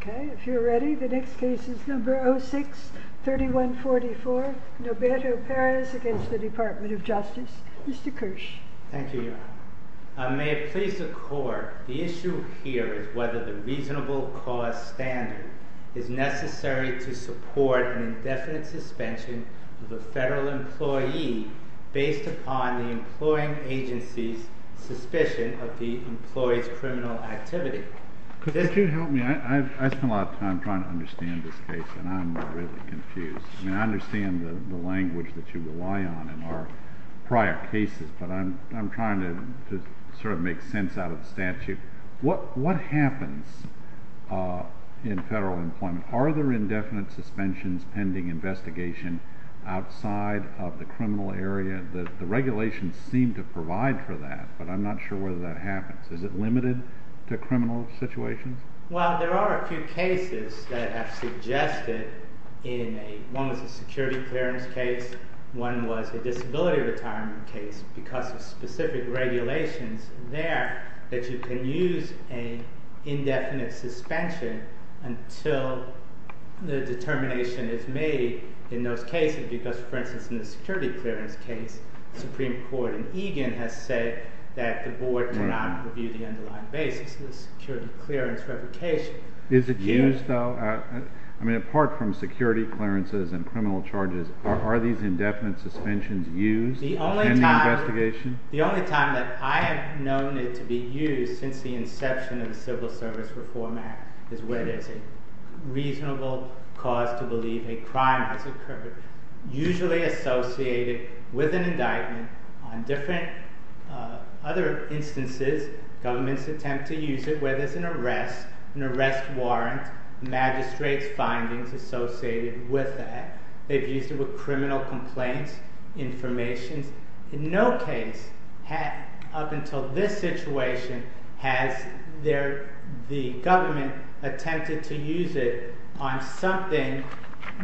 Okay, if you're ready, the next case is number 06-3144, Noberto Perez against the Department of Justice. Mr. Kirsch. Thank you, Your Honor. May it please the Court, the issue here is whether the reasonable cause standard is necessary to support an indefinite suspension of a federal employee based upon the employing agency's suspicion of the employee's criminal activity. Could you help me? I've spent a lot of time trying to understand this case, and I'm really confused. I mean, I understand the language that you rely on in our prior cases, but I'm trying to sort of make sense out of the statute. What happens in federal employment? Are there indefinite suspensions pending investigation outside of the criminal area? The regulations seem to provide for that, but I'm not sure whether that happens. Is it limited to criminal situations? Well, there are a few cases that have suggested in a, one was a security clearance case, one was a disability retirement case because of specific regulations there that you can use an indefinite suspension until the determination is made in those cases because, for instance, in the security clearance case, Supreme Court in Egan has said that the board cannot review the underlying basis of the security clearance replication. Is it used, though? I mean, apart from security clearances and criminal charges, are these indefinite suspensions used in the investigation? The only time that I have known it to be used since the inception of the Civil Service Reform Act is when it's a reasonable cause to believe a crime has occurred, usually associated with an indictment on different other instances. Governments attempt to use it whether it's an arrest, an arrest warrant, magistrate's findings associated with that. They've used it with criminal complaints, information, in no case up until this situation has the government attempted to use it on something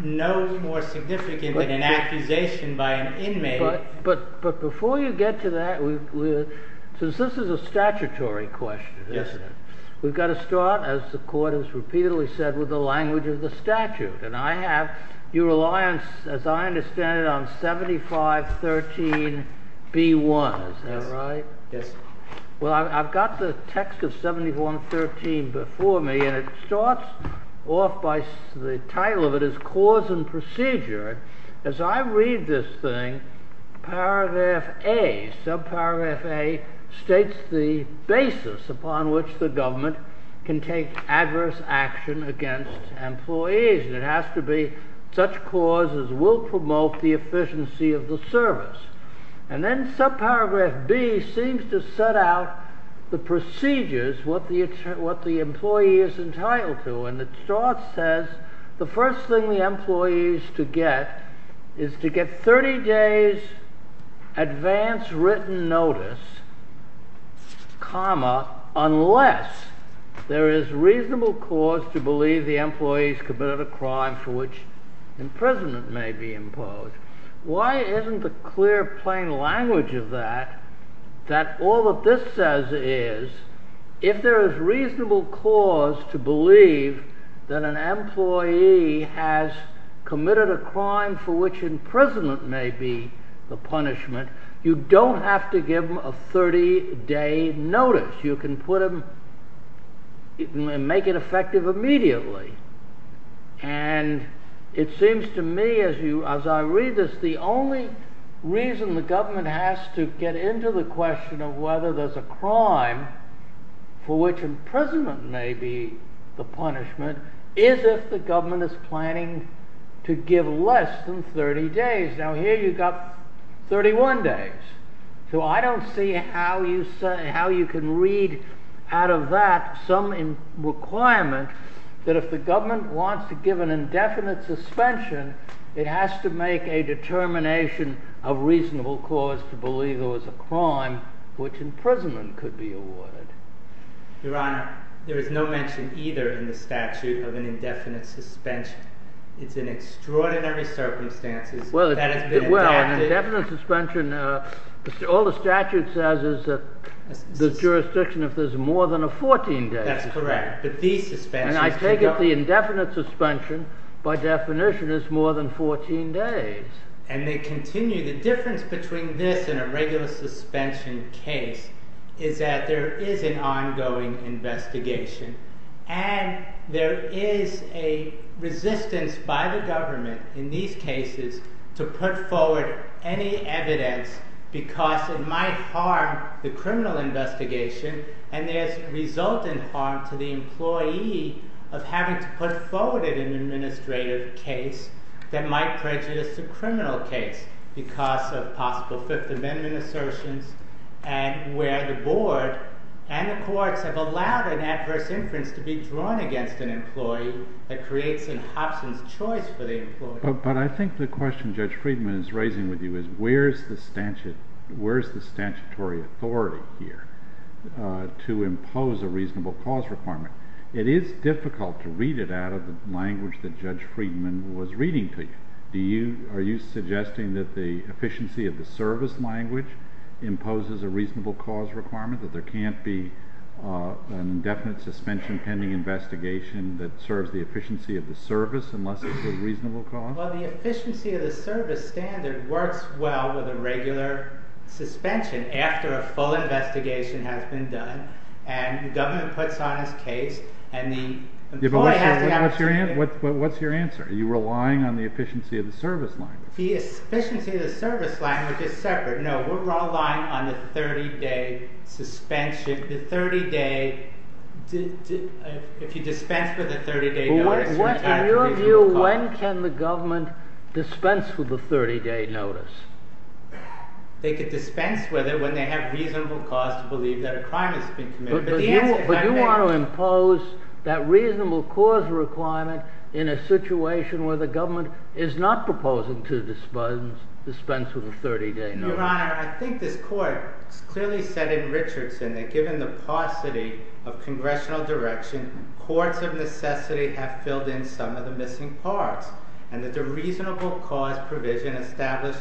no more significant than an accusation by an inmate. But before you get to that, since this is a statutory question, we've got to start, as the court has repeatedly said, with the language of the statute. And I have your reliance, as I understand it, on 7513B1, is that right? Yes. Well, I've got the text of 7113 before me, and it starts off by the title of it is Cause and Procedure. As I read this thing, paragraph A, subparagraph A states the basis upon which the government can take adverse action against employees, and it has to be such cause as will promote the efficiency of the service. And then subparagraph B seems to set out the procedures, what the employee is entitled to, and it starts, says, the first thing the employee is to get is to get 30 days advance written notice, comma, unless there is reasonable cause to believe the employee's committed a crime for which imprisonment may be imposed. Why isn't the clear, plain language of that that all that this says is, if there is reasonable cause to believe that an employee has committed a crime for which imprisonment may be the punishment, you don't have to give him a 30 day notice. You can put him, make it effective immediately. And it seems to me, as I read this, the only reason the government has to get into the question of whether there's a crime for which imprisonment may be the punishment is if the government is planning to give less than 30 days. Now here you've got 31 days. So I don't see how you can read out of that some requirement that if the government wants to give an indefinite suspension, it has to make a determination of reasonable cause to believe there was a crime which imprisonment could be awarded. Your Honor, there is no mention either in the statute of an indefinite suspension. It's in extraordinary circumstances. Well, an indefinite suspension, all the statute says is that the jurisdiction, if there's more than a 14 days. That's correct. But these suspensions- And I take it the indefinite suspension by definition is more than 14 days. And they continue, the difference between this and a regular suspension case is that there is an ongoing investigation. And there is a resistance by the government in these cases to put forward any evidence because it might harm the criminal investigation and there's resultant harm to the employee of having to put forward an administrative case that might prejudice the criminal case because of possible Fifth Amendment assertions and where the board and the courts have allowed an adverse inference to be drawn against an employee that creates an options choice for the employee. But I think the question Judge Friedman is raising with you is where's the statutory authority here It is difficult to read it out of the language that Judge Friedman was reading to you. Are you suggesting that the efficiency of the service language imposes a reasonable cause requirement that there can't be an indefinite suspension pending investigation that serves the efficiency of the service unless it's a reasonable cause? Well, the efficiency of the service standard works well with a regular suspension and the government puts on his case and the employee has the opportunity- What's your answer? Are you relying on the efficiency of the service language? The efficiency of the service language is separate. No, we're relying on the 30-day suspension, the 30-day, if you dispense with the 30-day notice- In your view, when can the government dispense with the 30-day notice? They could dispense with it when they have reasonable cause to believe that a crime has been committed. But you want to impose that reasonable cause requirement in a situation where the government is not proposing to dispense with the 30-day notice. Your Honor, I think this court has clearly said in Richardson that given the paucity of congressional direction, courts of necessity have filled in some of the missing parts and that the reasonable cause provision established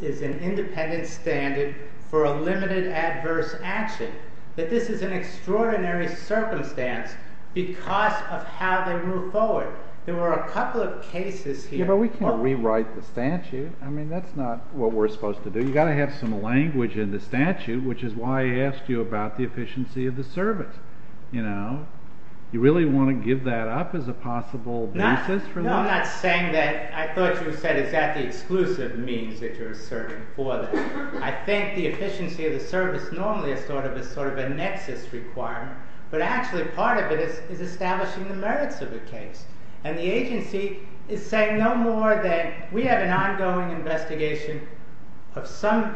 is an independent standard for a limited adverse action, that this is an extraordinary circumstance because of how they move forward. There were a couple of cases here- Yeah, but we can rewrite the statute. I mean, that's not what we're supposed to do. You got to have some language in the statute, which is why I asked you about the efficiency of the service. You really want to give that up as a possible basis for that? No, I'm not saying that. I thought you said, is that the exclusive means that you're serving for them? I think the efficiency of the service normally is sort of a nexus requirement, but actually part of it is establishing the merits of the case. And the agency is saying no more than, we have an ongoing investigation of some,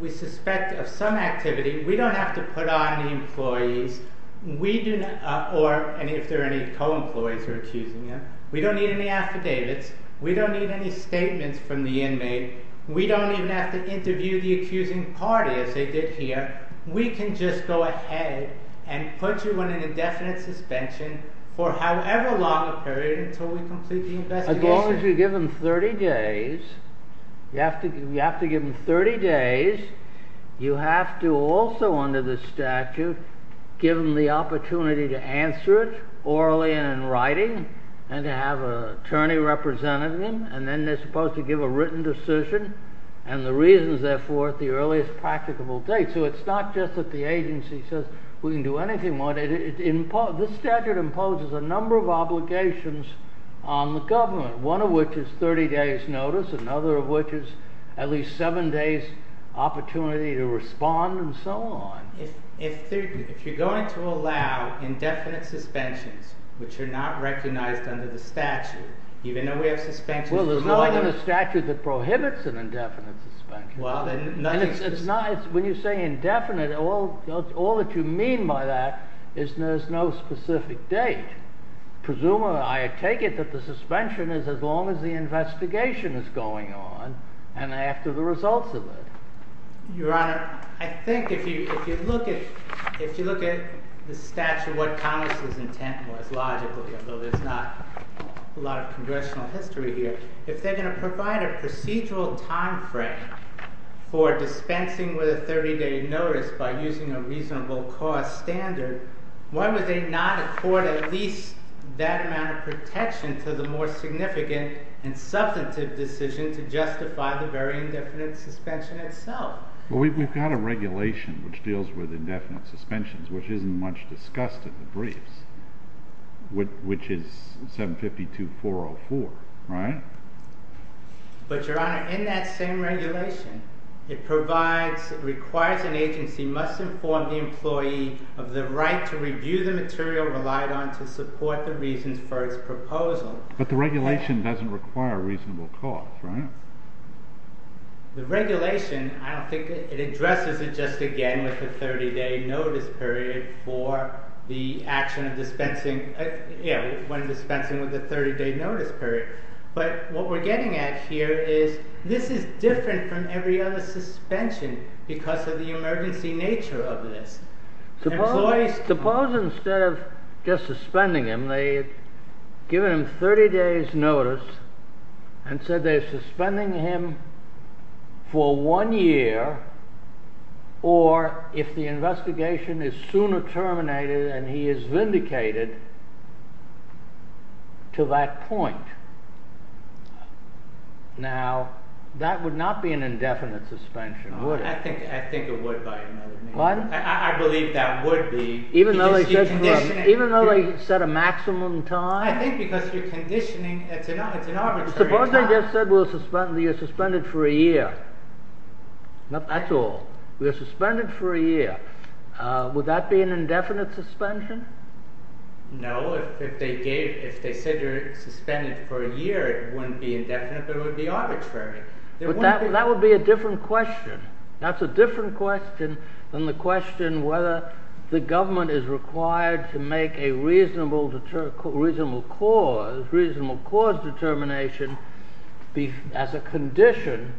we suspect of some activity. We don't have to put on the employees. Or if there are any co-employees who are accusing you, we don't need any affidavits. We don't need any statements from the inmate. We don't even have to interview the accusing party as they did here. We can just go ahead and put you on an indefinite suspension for however long a period until we complete the investigation. As long as you give them 30 days, you have to give them 30 days. You have to also, under the statute, give them the opportunity to answer it orally and in writing, and to have an attorney representing them. And then they're supposed to give a written decision and the reasons, therefore, at the earliest practicable date. So it's not just that the agency says, we can do anything more. This statute imposes a number of obligations on the government, one of which is 30 days notice, another of which is at least seven days opportunity to respond and so on. If you're going to allow indefinite suspensions, which are not recognized under the statute, even though we have suspensions for more than- Well, there's nothing in the statute that prohibits an indefinite suspension. Well, then nothing's- When you say indefinite, all that you mean by that is there's no specific date. Presumably, I take it that the suspension is as long as the investigation is going on and after the results of it. Your Honor, I think if you look at the statute, what Congress's intent was, logically, although there's not a lot of congressional history here, if they're going to provide a procedural timeframe for dispensing with a 30-day notice by using a reasonable cost standard, why would they not afford at least that amount of protection to the more significant and substantive decision to justify the very indefinite suspension itself? Well, we've got a regulation which deals with indefinite suspensions, which isn't much discussed at the briefs, which is 752.404, right? But, Your Honor, in that same regulation, it requires an agency must inform the employee of the right to review the material relied on to support the reasons for its proposal. But the regulation doesn't require a reasonable cost, right? The regulation, I don't think it addresses it just again with the 30-day notice period for the action of dispensing, you know, when dispensing with a 30-day notice period. But what we're getting at here is, this is different from every other suspension because of the emergency nature of this. Suppose instead of just suspending him, they had given him 30 days notice and said they're suspending him for one year, or if the investigation is sooner terminated and he is vindicated to that point. Now, that would not be an indefinite suspension, would it? I think it would by another means. Pardon? I believe that would be. Even though they said a maximum time? I think because you're conditioning, it's an arbitrary time. Suppose they just said you're suspended for a year, not at all. You're suspended for a year. Would that be an indefinite suspension? No, if they said you're suspended for a year, it wouldn't be indefinite, but it would be arbitrary. That would be a different question. That's a different question than the question whether the government is required to make a reasonable cause determination as a condition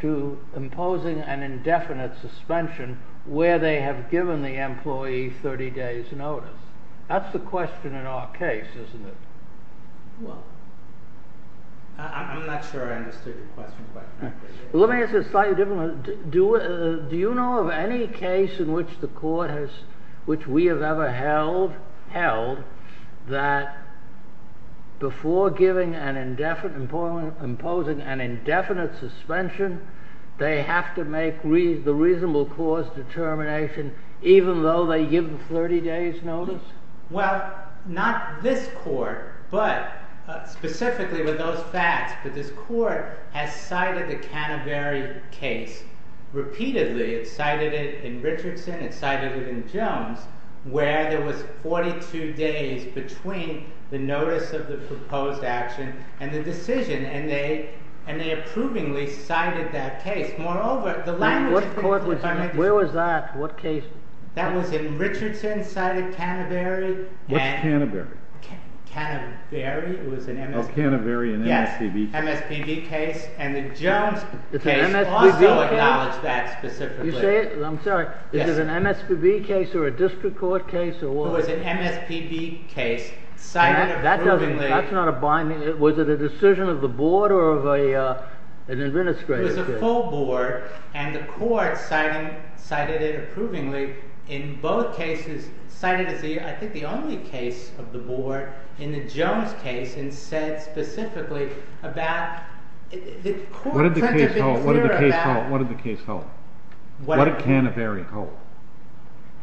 to imposing an indefinite suspension where they have given the employee 30 days notice. That's the question in our case, isn't it? I'm not sure I understood your question quite correctly. Let me ask you a slightly different one. Do you know of any case in which the court has, which we have ever held that before giving and imposing an indefinite suspension, they have to make the reasonable cause determination even though they give 30 days notice? Well, not this court, but specifically with those facts, but this court has cited the Canterbury case repeatedly. It cited it in Richardson, it cited it in Jones, where there was 42 days between the notice of the proposed action and the decision, and they approvingly cited that case. Moreover, the language of the court was- Where was that? What case? That was in Richardson, cited Canterbury. What's Canterbury? Canterbury, it was an MSPB- Oh, Canterbury and MSPB. Yes, MSPB case, and the Jones case also acknowledged that specifically. You say it? I'm sorry, is it an MSPB case or a district court case, or what was it? It was an MSPB case cited- That's not a binding, was it a decision of the board or of an administrative case? It was a full board, and the court cited it approvingly in both cases, cited it as, I think, the only case of the board in the Jones case, and said specifically about the court- What did the case hold? What did the case hold? What did the case hold? What did Canterbury hold?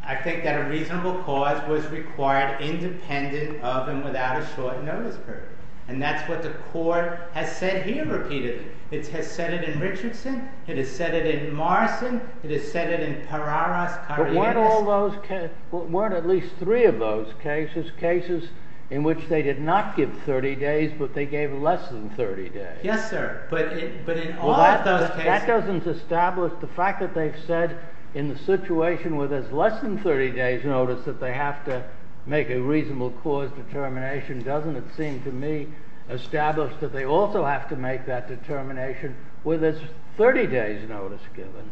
I think that a reasonable cause was required independent of and without a short notice period, and that's what the court has said here repeatedly. It has said it in Richardson, it has said it in Morrison, it has said it in Pararas, Karyannis- But weren't all those, weren't at least three of those cases, cases in which they did not give 30 days, but they gave less than 30 days? Yes, sir, but in all of those cases- That doesn't establish the fact that they've said in the situation where there's less than 30 days notice that they have to make a reasonable cause determination. Doesn't it seem to me established that they also have to make that determination where there's 30 days notice given?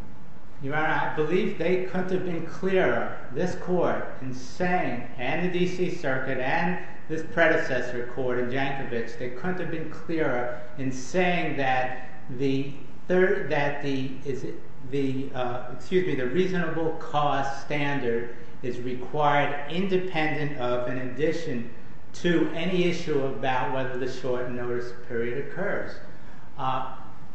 Your Honor, I believe they couldn't have been clearer, this court, in saying, and the D.C. Circuit, and this predecessor court in Jankovic, they couldn't have been clearer in saying that the third, that the, excuse me, the reasonable cause standard is required independent of, in addition to, any issue about whether the short notice period occurs.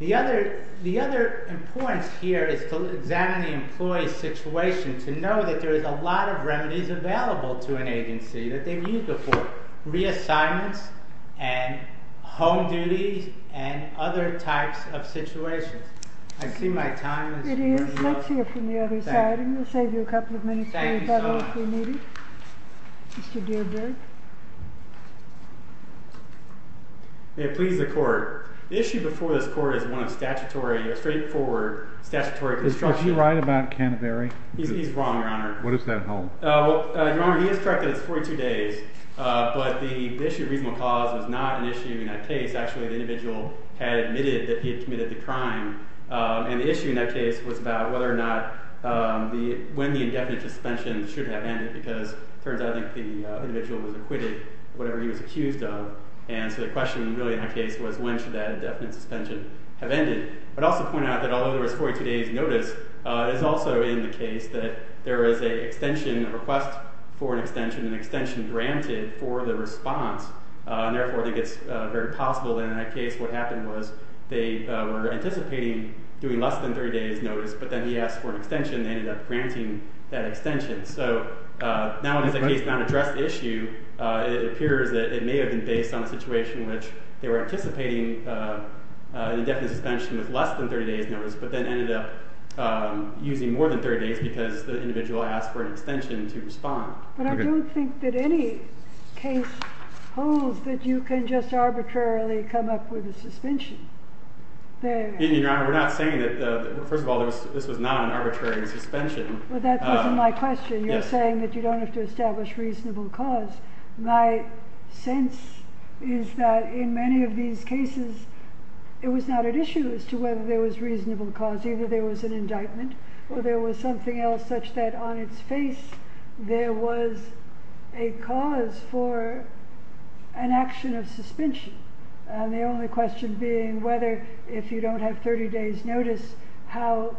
The other importance here is to examine the employee's situation, to know that there is a lot of remedies available to an agency that they've used before, reassignments, and home duties, and other types of situations. I see my time is running out. It is, let's hear from the other side, and we'll save you a couple of minutes to read that one if you need it. Mr. Dierdre. May it please the court. The issue before this court is one of statutory, straightforward statutory construction. Is he right about Canterbury? He's wrong, Your Honor. What is that, Hall? Well, Your Honor, he is correct that it's 42 days, but the issue of reasonable cause was not an issue in that case. Actually, the individual had admitted that he had committed the crime, and the issue in that case was about whether or not when the indefinite suspension should have ended, because it turns out that the individual was acquitted of whatever he was accused of, and so the question, really, in that case was when should that indefinite suspension have ended? I'd also point out that although there was 42 days notice, it is also in the case that there is an extension, a request for an extension, an extension granted for the response, and therefore it gets very possible that in that case what happened was they were anticipating doing less than 30 days notice, but then he asked for an extension, and they ended up granting that extension, so now it is a case not addressed issue. It appears that it may have been based on a situation in which they were anticipating an indefinite suspension with less than 30 days notice, but then ended up using more than 30 days because the individual asked for an extension to respond. But I don't think that any case holds that you can just arbitrarily come up with a suspension. Your Honor, we're not saying that, first of all, this was not an arbitrary suspension. Well, that wasn't my question. You're saying that you don't have to establish reasonable cause. My sense is that in many of these cases it was not at issue as to whether there was reasonable cause. Either there was an indictment or there was something else such that on its face there was a cause for an action of suspension, and the only question being whether if you don't have 30 days notice, how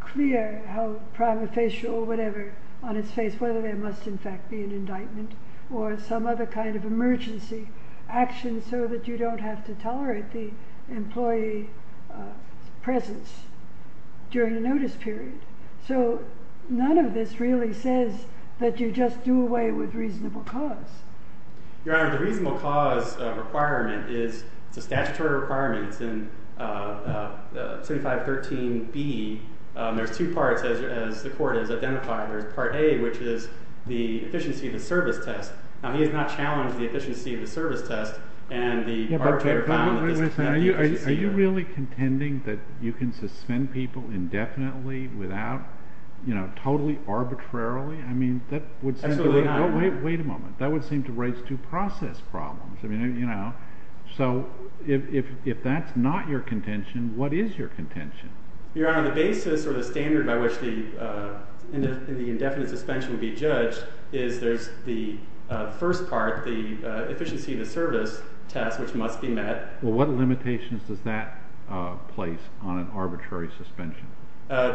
clear, how prima facie or whatever on its face, whether there must in fact be an indictment or some other kind of emergency action so that you don't have to tolerate the employee's presence during a notice period. So none of this really says that you just do away with reasonable cause. Your Honor, the reasonable cause requirement is the statutory requirements in 7513B. There's two parts as the court has identified. There's part A, which is the efficiency of the service test. Now, he has not challenged the efficiency of the service test and the arbitrary found that this kind of efficiency. Are you really contending that you can suspend people indefinitely without, you know, totally arbitrarily? I mean, that would seem to, wait a moment, that would seem to raise due process problems. I mean, you know, so if that's not your contention, what is your contention? Your Honor, the basis or the standard by which the indefinite suspension would be judged is there's the first part, the efficiency of the service test, which must be met. Well, what limitations does that place on an arbitrary suspension?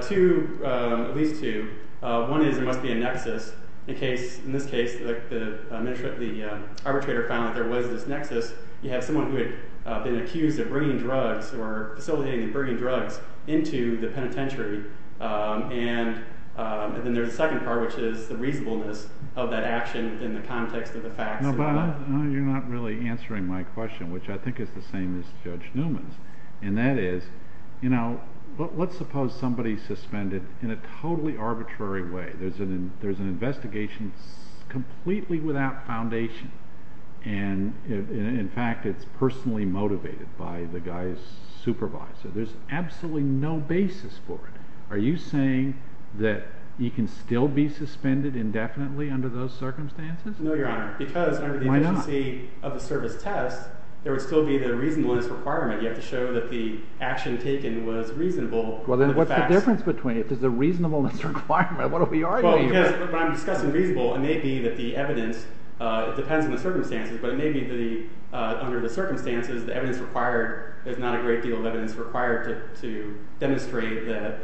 Two, at least two. One is there must be a nexus in case, in this case, like the arbitrator found that there was this nexus. You have someone who had been accused of bringing drugs or facilitating and bringing drugs into the penitentiary. And then there's a second part, which is the reasonableness of that action in the context of the facts. No, Bob, you're not really answering my question, which I think is the same as Judge Newman's. And that is, you know, let's suppose somebody's suspended in a totally arbitrary way. There's an investigation completely without foundation. And in fact, it's personally motivated by the guy's supervisor. There's absolutely no basis for it. Are you saying that you can still be suspended indefinitely under those circumstances? No, Your Honor, because under the efficiency of the service test, there would still be the reasonableness requirement. You have to show that the action taken was reasonable. Well, then what's the difference between it? There's a reasonableness requirement. What are we arguing here? Well, because when I'm discussing reasonable, it may be that the evidence, it depends on the circumstances, but it may be that under the circumstances, the evidence required, there's not a great deal of evidence required to demonstrate that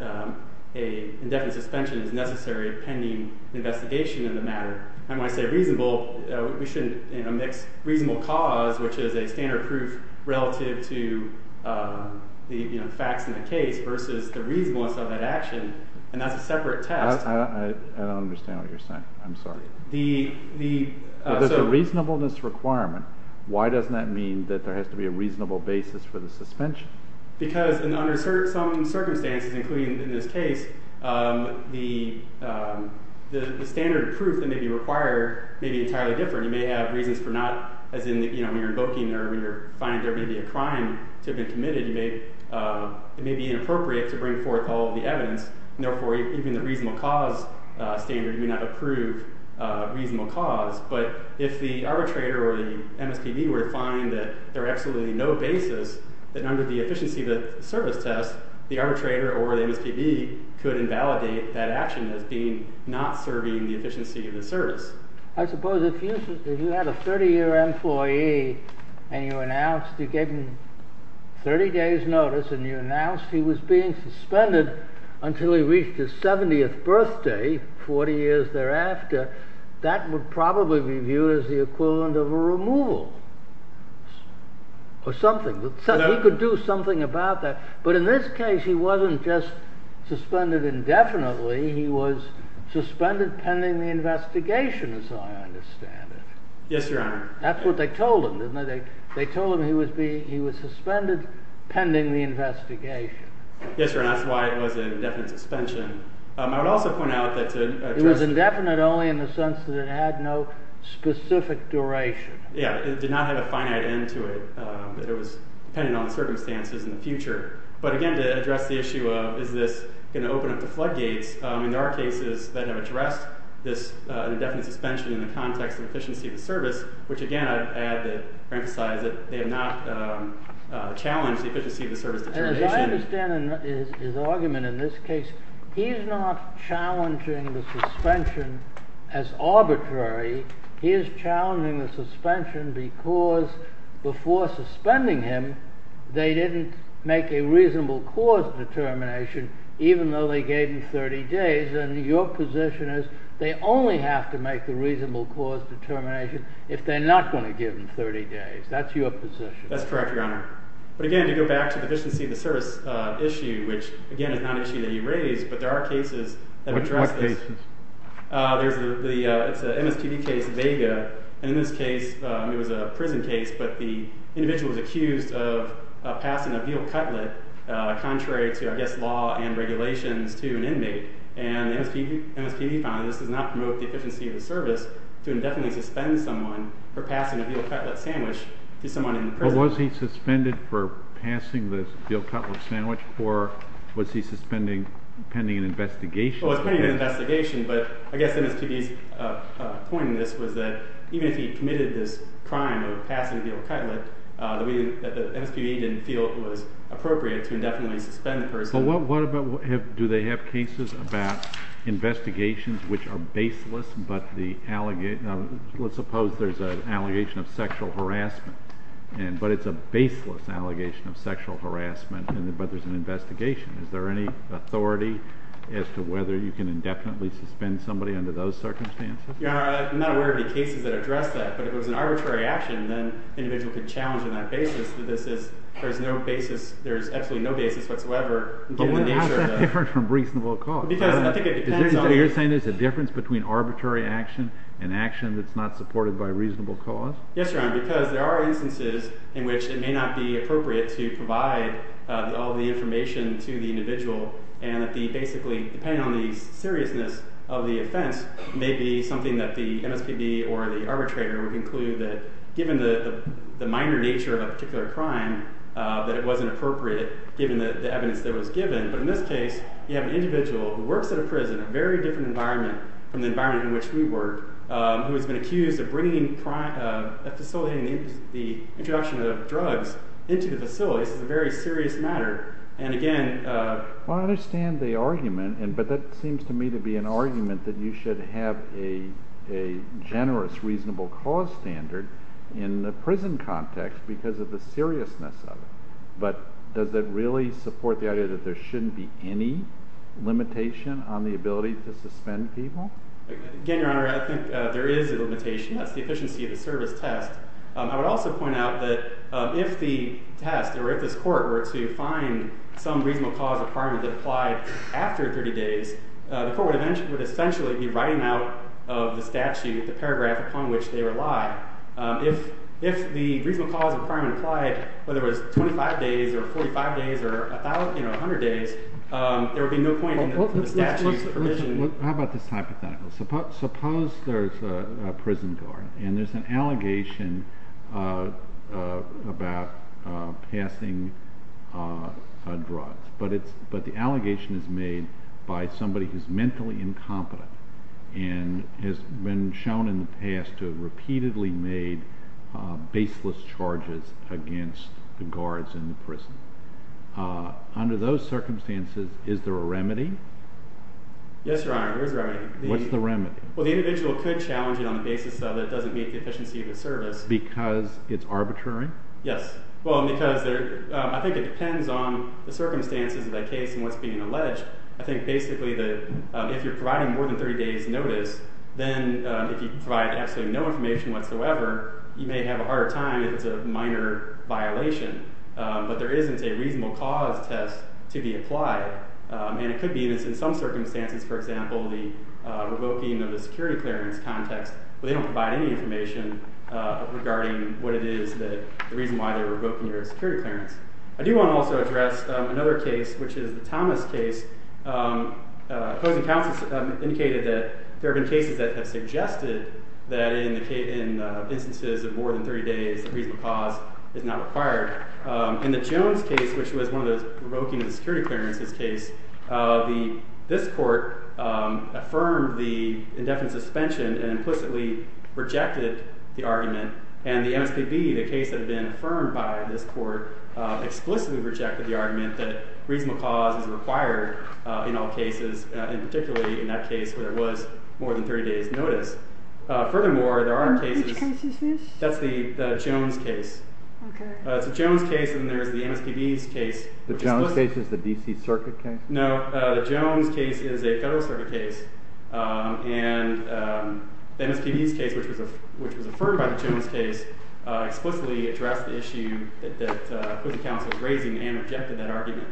an indefinite suspension is necessary pending investigation in the matter. And when I say reasonable, we shouldn't mix reasonable cause, which is a standard proof relative to the facts in the case versus the reasonableness of that action. And that's a separate test. I don't understand what you're saying. The reasonableness requirement, why doesn't that mean that there has to be a reasonable basis for the suspension? Because under certain circumstances, including in this case, the standard proof that may be required may be entirely different. You may have reasons for not, as in when you're invoking or when you're finding there may be a crime to have been committed, it may be inappropriate to bring forth all of the evidence. Therefore, even the reasonable cause standard may not approve reasonable cause. But if the arbitrator or the MSPB were to find that there are absolutely no basis, that under the efficiency of the service test, the arbitrator or the MSPB could invalidate that action as being not serving the efficiency of the service. I suppose if you had a 30 year employee and you announced, you gave him 30 days notice and you announced he was being suspended until he reached his 70th birthday, 40 years thereafter, that would probably be viewed as the equivalent of a removal or something. He could do something about that. But in this case, he wasn't just suspended indefinitely. He was suspended pending the investigation as I understand it. Yes, Your Honor. That's what they told him, didn't they? They told him he was suspended pending the investigation. Yes, Your Honor. That's why it was an indefinite suspension. I would also point out that to address- It was indefinite only in the sense that it had no specific duration. Yeah, it did not have a finite end to it. It was dependent on the circumstances in the future. But again, to address the issue of, is this gonna open up the floodgates? In our cases that have addressed this indefinite suspension in the context of efficiency of the service, which again, I'd add that, emphasize that they have not challenged the efficiency of the service determination. And as I understand his argument in this case, he's not challenging the suspension as arbitrary. He is challenging the suspension because before suspending him, they didn't make a reasonable cause determination even though they gave him 30 days. And your position is, they only have to make the reasonable cause determination if they're not gonna give him 30 days. That's your position. That's correct, Your Honor. But again, to go back to the efficiency of the service issue which again, is not an issue that you raised, but there are cases that address this. What cases? There's the, it's a MSPB case, Vega. And in this case, it was a prison case, but the individual was accused of passing a veal cutlet contrary to, I guess, law and regulations to an inmate. And the MSPB found that this does not promote the efficiency of the service to indefinitely suspend someone for passing a veal cutlet sandwich to someone in the prison. But was he suspended for passing this veal cutlet sandwich or was he suspended pending an investigation? Well, it's pending an investigation, but I guess MSPB's point in this was that even if he committed this crime of passing a veal cutlet, the MSPB didn't feel it was appropriate to indefinitely suspend the person. But what about, do they have cases about investigations which are baseless, but the, let's suppose there's an allegation of sexual harassment but it's a baseless allegation of sexual harassment but there's an investigation. Is there any authority as to whether you can indefinitely suspend somebody under those circumstances? Your Honor, I'm not aware of any cases that address that, but if it was an arbitrary action, then an individual could challenge on that basis that this is, there's no basis, there's absolutely no basis whatsoever in giving the nature of the- But how's that different from reasonable cause? Because I think it depends on- Is there, you're saying there's a difference between arbitrary action and action that's not supported by reasonable cause? Yes, Your Honor, because there are instances in which it may not be appropriate to provide all the information to the individual and that the basically, depending on the seriousness of the offense, may be something that the MSPB or the arbitrator would conclude that given the minor nature of a particular crime, that it wasn't appropriate, given the evidence that was given. But in this case, you have an individual who works at a prison, a very different environment from the environment in which we work, who has been accused of bringing, of facilitating the introduction of drugs into the facility. This is a very serious matter. And again- Well, I understand the argument, but that seems to me to be an argument that you should have a generous reasonable cause standard in the prison context because of the seriousness of it. But does that really support the idea that there shouldn't be any limitation on the ability to suspend people? Again, Your Honor, I think there is a limitation. That's the efficiency of the service test. I would also point out that if the test or if this court were to find some reasonable cause of crime that applied after 30 days, the court would essentially be writing out of the statute, the paragraph upon which they rely. If the reasonable cause of crime applied, whether it was 25 days or 45 days or a thousand, you know, a hundred days, there would be no point in the statute's permission- How about this hypothetical? Suppose there's a prison guard and there's an allegation about passing drugs, but the allegation is made by somebody who's mentally incompetent and has been shown in the past to have repeatedly made baseless charges against the guards in the prison. Under those circumstances, is there a remedy? Yes, Your Honor, there is a remedy. What's the remedy? Well, the individual could challenge it on the basis of it doesn't meet the efficiency of the service. Because it's arbitrary? Yes, well, because I think it depends on the circumstances of that case and what's being alleged. I think basically that if you're providing more than 30 days notice, then if you provide absolutely no information whatsoever, you may have a harder time if it's a minor violation, but there isn't a reasonable cause test to be applied. And it could be that in some circumstances, for example, the revoking of the security clearance context, where they don't provide any information regarding what it is that, the reason why they're revoking your security clearance. I do want to also address another case, which is the Thomas case. Opposing counsels indicated that there have been cases that have suggested that in instances of more than 30 days, a reasonable cause is not required. In the Jones case, which was one of those revoking of the security clearance case, this court affirmed the indefinite suspension and implicitly rejected the argument. And the MSPB, the case that had been affirmed by this court, explicitly rejected the argument that reasonable cause is required in all cases, and particularly in that case where there was more than 30 days notice. Furthermore, there are cases- Which case is this? That's the Jones case. Okay. It's a Jones case, and there's the MSPB's case. The Jones case is the DC circuit case? No, the Jones case is a federal circuit case. And the MSPB's case, which was affirmed by the Jones case, explicitly addressed the issue that opposing counsel was raising and rejected that argument.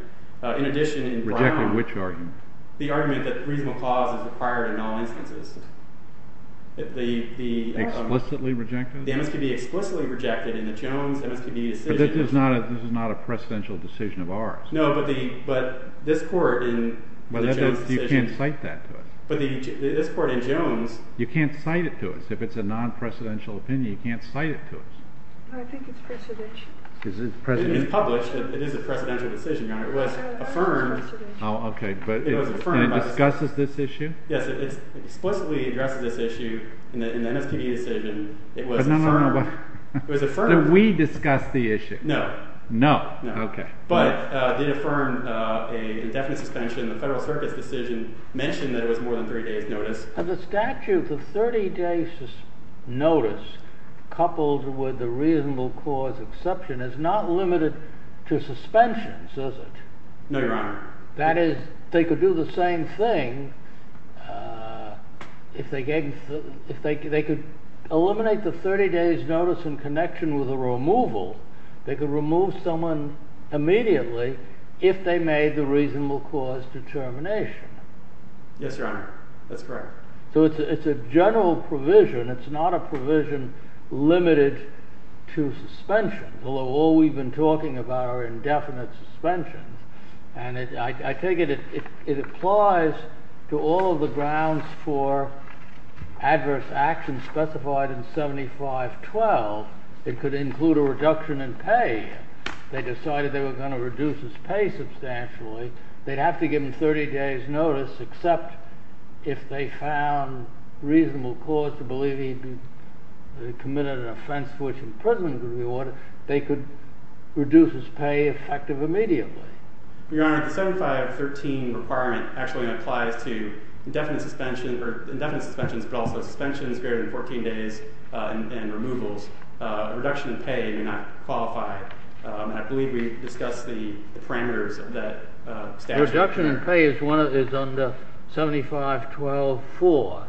In addition, in Brown- Rejected which argument? The argument that reasonable cause is required in all instances. The MSPB explicitly rejected in the Jones MSPB's decision- This is not a precedential decision of ours. No, but this court in the Jones decision- You can't cite that to us. But this court in Jones- You can't cite it to us. If it's a non-precedential opinion, you can't cite it to us. I think it's precedential. Is it precedential? It is published. It is a precedential decision, Your Honor. It was affirmed- Oh, okay. It was affirmed by the- And it discusses this issue? in the MSPB decision. It was affirmed- But no, no, no. It was affirmed- So we discussed the issue. No. No, okay. But they affirmed a definite suspension. The federal circuit's decision mentioned that it was more than 30 days notice. The statute, the 30 days notice coupled with the reasonable cause exception is not limited to suspensions, is it? No, Your Honor. That is, they could do the same thing if they could eliminate the 30 days notice in connection with a removal. They could remove someone immediately if they made the reasonable cause determination. Yes, Your Honor. That's correct. So it's a general provision. It's not a provision limited to suspension, although all we've been talking about are indefinite suspensions. And I take it it applies to all of the grounds for adverse action specified in 7512. It could include a reduction in pay. They decided they were gonna reduce his pay substantially. They'd have to give him 30 days notice except if they found reasonable cause to believe he committed an offense which imprisonment could be ordered, they could reduce his pay effective immediately. Your Honor, the 7513 requirement actually applies to indefinite suspension or indefinite suspensions, but also suspensions greater than 14 days and removals. Reduction in pay may not qualify. I believe we discussed the parameters of that statute. Reduction in pay is under 7512-4.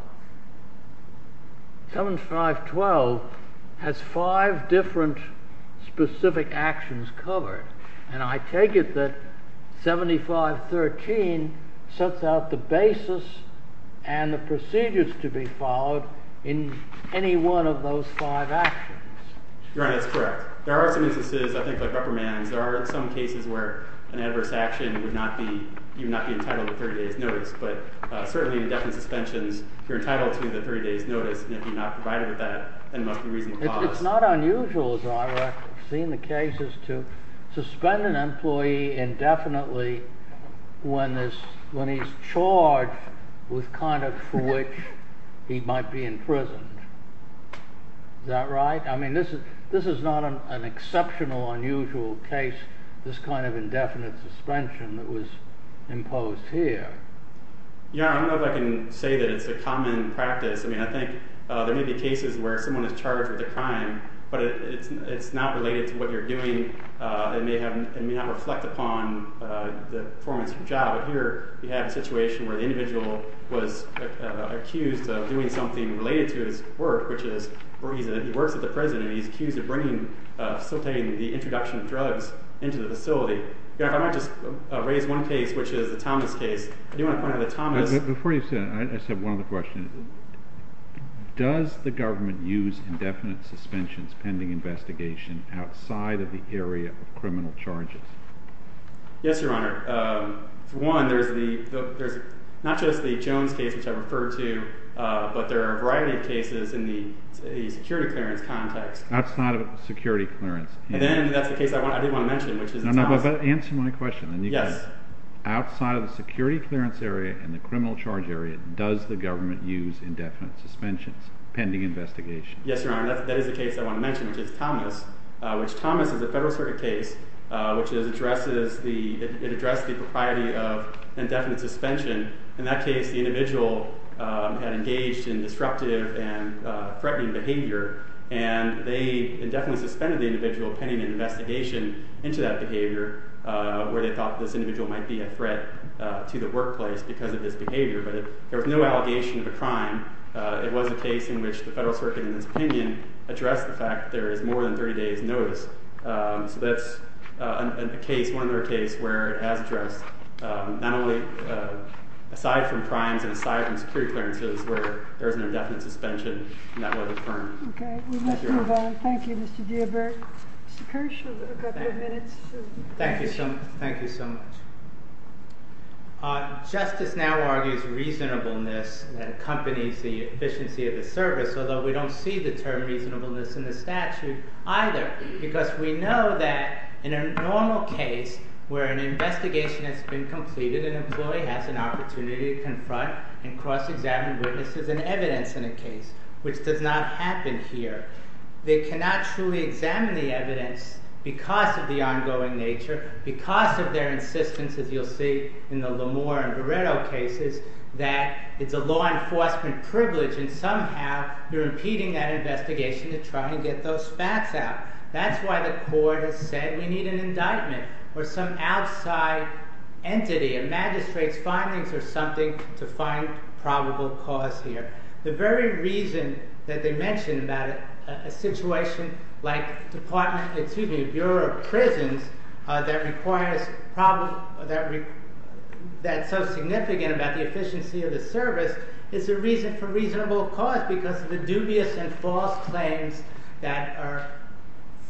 7512 has five different specific actions covered. And I take it that 7513 sets out the basis and the procedures to be followed in any one of those five actions. Your Honor, that's correct. There are some instances, I think, like reprimands. There are some cases where an adverse action would not be entitled to 30 days notice, but certainly indefinite suspensions, you're entitled to the 30 days notice. And if you're not provided with that, then it must be reasonable cause. It's not unusual, as I've seen the cases, to suspend an employee indefinitely when he's charged with conduct for which he might be imprisoned. Is that right? I mean, this is not an exceptional, unusual case, this kind of indefinite suspension that was imposed here. Your Honor, I don't know if I can say that it's a common practice. I mean, I think there may be cases where someone is charged with a crime, but it's not related to what you're doing. It may not reflect upon the performance of your job. But here, you have a situation where the individual was accused of doing something related to his work, which is he works at the prison, and he's accused of facilitating the introduction of drugs into the facility. Your Honor, if I might just raise one case, which is the Thomas case. I do want to point out that Thomas- Before you say that, I just have one other question. Does the government use indefinite suspensions pending investigation outside of the area of criminal charges? Yes, Your Honor. For one, there's not just the Jones case, which I referred to, but there are a variety of cases in the security clearance context. Outside of the security clearance. And then, that's the case I did want to mention, which is Thomas- No, no, but answer my question. Yes. Outside of the security clearance area and the criminal charge area, does the government use indefinite suspensions pending investigation? Yes, Your Honor. That is the case I want to mention, which is Thomas. Which, Thomas is a federal circuit case, which addresses the propriety of indefinite suspension. In that case, the individual had engaged in disruptive and threatening behavior, and they indefinitely suspended the individual pending an investigation into that behavior, where they thought this individual might be a threat to the workplace because of this behavior. There was no allegation of a crime. It was a case in which the federal circuit, in its opinion, addressed the fact that there is more than 30 days notice. So, that's a case, one other case, where it has addressed, not only aside from crimes, and aside from security clearances, where there is an indefinite suspension, and that was affirmed. Okay, we must move on. Thank you, Mr. Diabert. Mr. Kirsch, you have a couple of minutes. Thank you, thank you so much. Justice now argues reasonableness that accompanies the efficiency of the service, although we don't see the term reasonableness in the statute either, because we know that in a normal case, where an investigation has been completed, an employee has an opportunity to confront and cross-examine witnesses and evidence in a case, which does not happen here. They cannot truly examine the evidence because of the ongoing nature, because of their insistence, as you'll see in the Lamore and Beretto cases, that it's a law enforcement privilege, and somehow, you're impeding that investigation to try and get those facts out. That's why the court has said we need an indictment, or some outside entity, a magistrate's findings, or something to find probable cause here. The very reason that they mention about a situation like Department, excuse me, Bureau of Prisons, that requires, that's so significant about the efficiency of the service, is the reason for reasonable cause, because of the dubious and false claims that are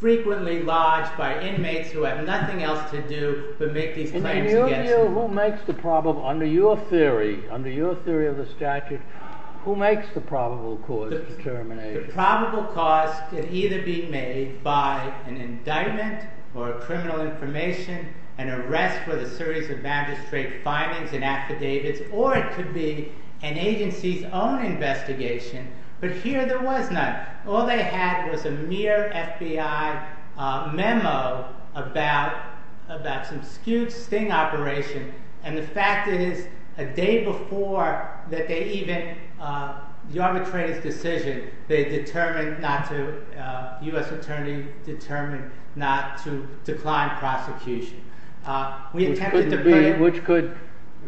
frequently lodged by inmates who have nothing else to do but make these claims against you. Who makes the probable, under your theory, under your theory of the statute, who makes the probable cause determination? The probable cause can either be made by an indictment, or a criminal information, an arrest with a series of magistrate findings and affidavits, or it could be an agency's own investigation, but here, there was none. All they had was a mere FBI memo about some skewed sting operation, and the fact is, a day before that they even, the arbitrator's decision, they determined not to, U.S. Attorney determined not to decline prosecution. We attempted to bring. Which could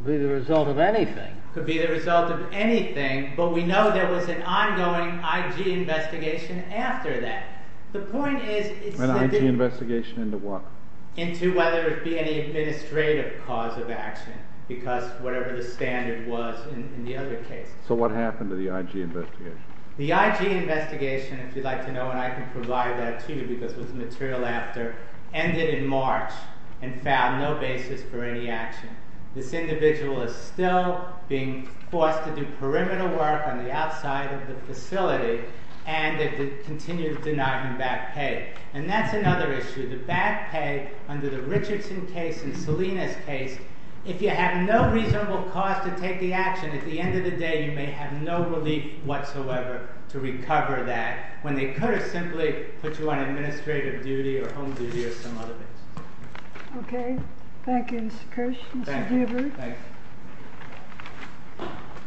be the result of anything. Could be the result of anything, but we know there was an ongoing IG investigation after that. The point is. An IG investigation into what? Into whether it be any administrative cause of action, because whatever the standard was in the other case. So what happened to the IG investigation? The IG investigation, if you'd like to know, and I can provide that to you, because it was material after, ended in March, and found no basis for any action. This individual is still being forced to do perimeter work on the outside of the facility, and they continue to deny him back pay, and that's another issue. The back pay, under the Richardson case and Salinas case, if you have no reasonable cause to take the action, then at the end of the day, you may have no relief whatsoever to recover that, when they could have simply put you on administrative duty or home duty or some other basis. Okay, thank you, Mr. Kirsch, Mr. Deaver. Thanks.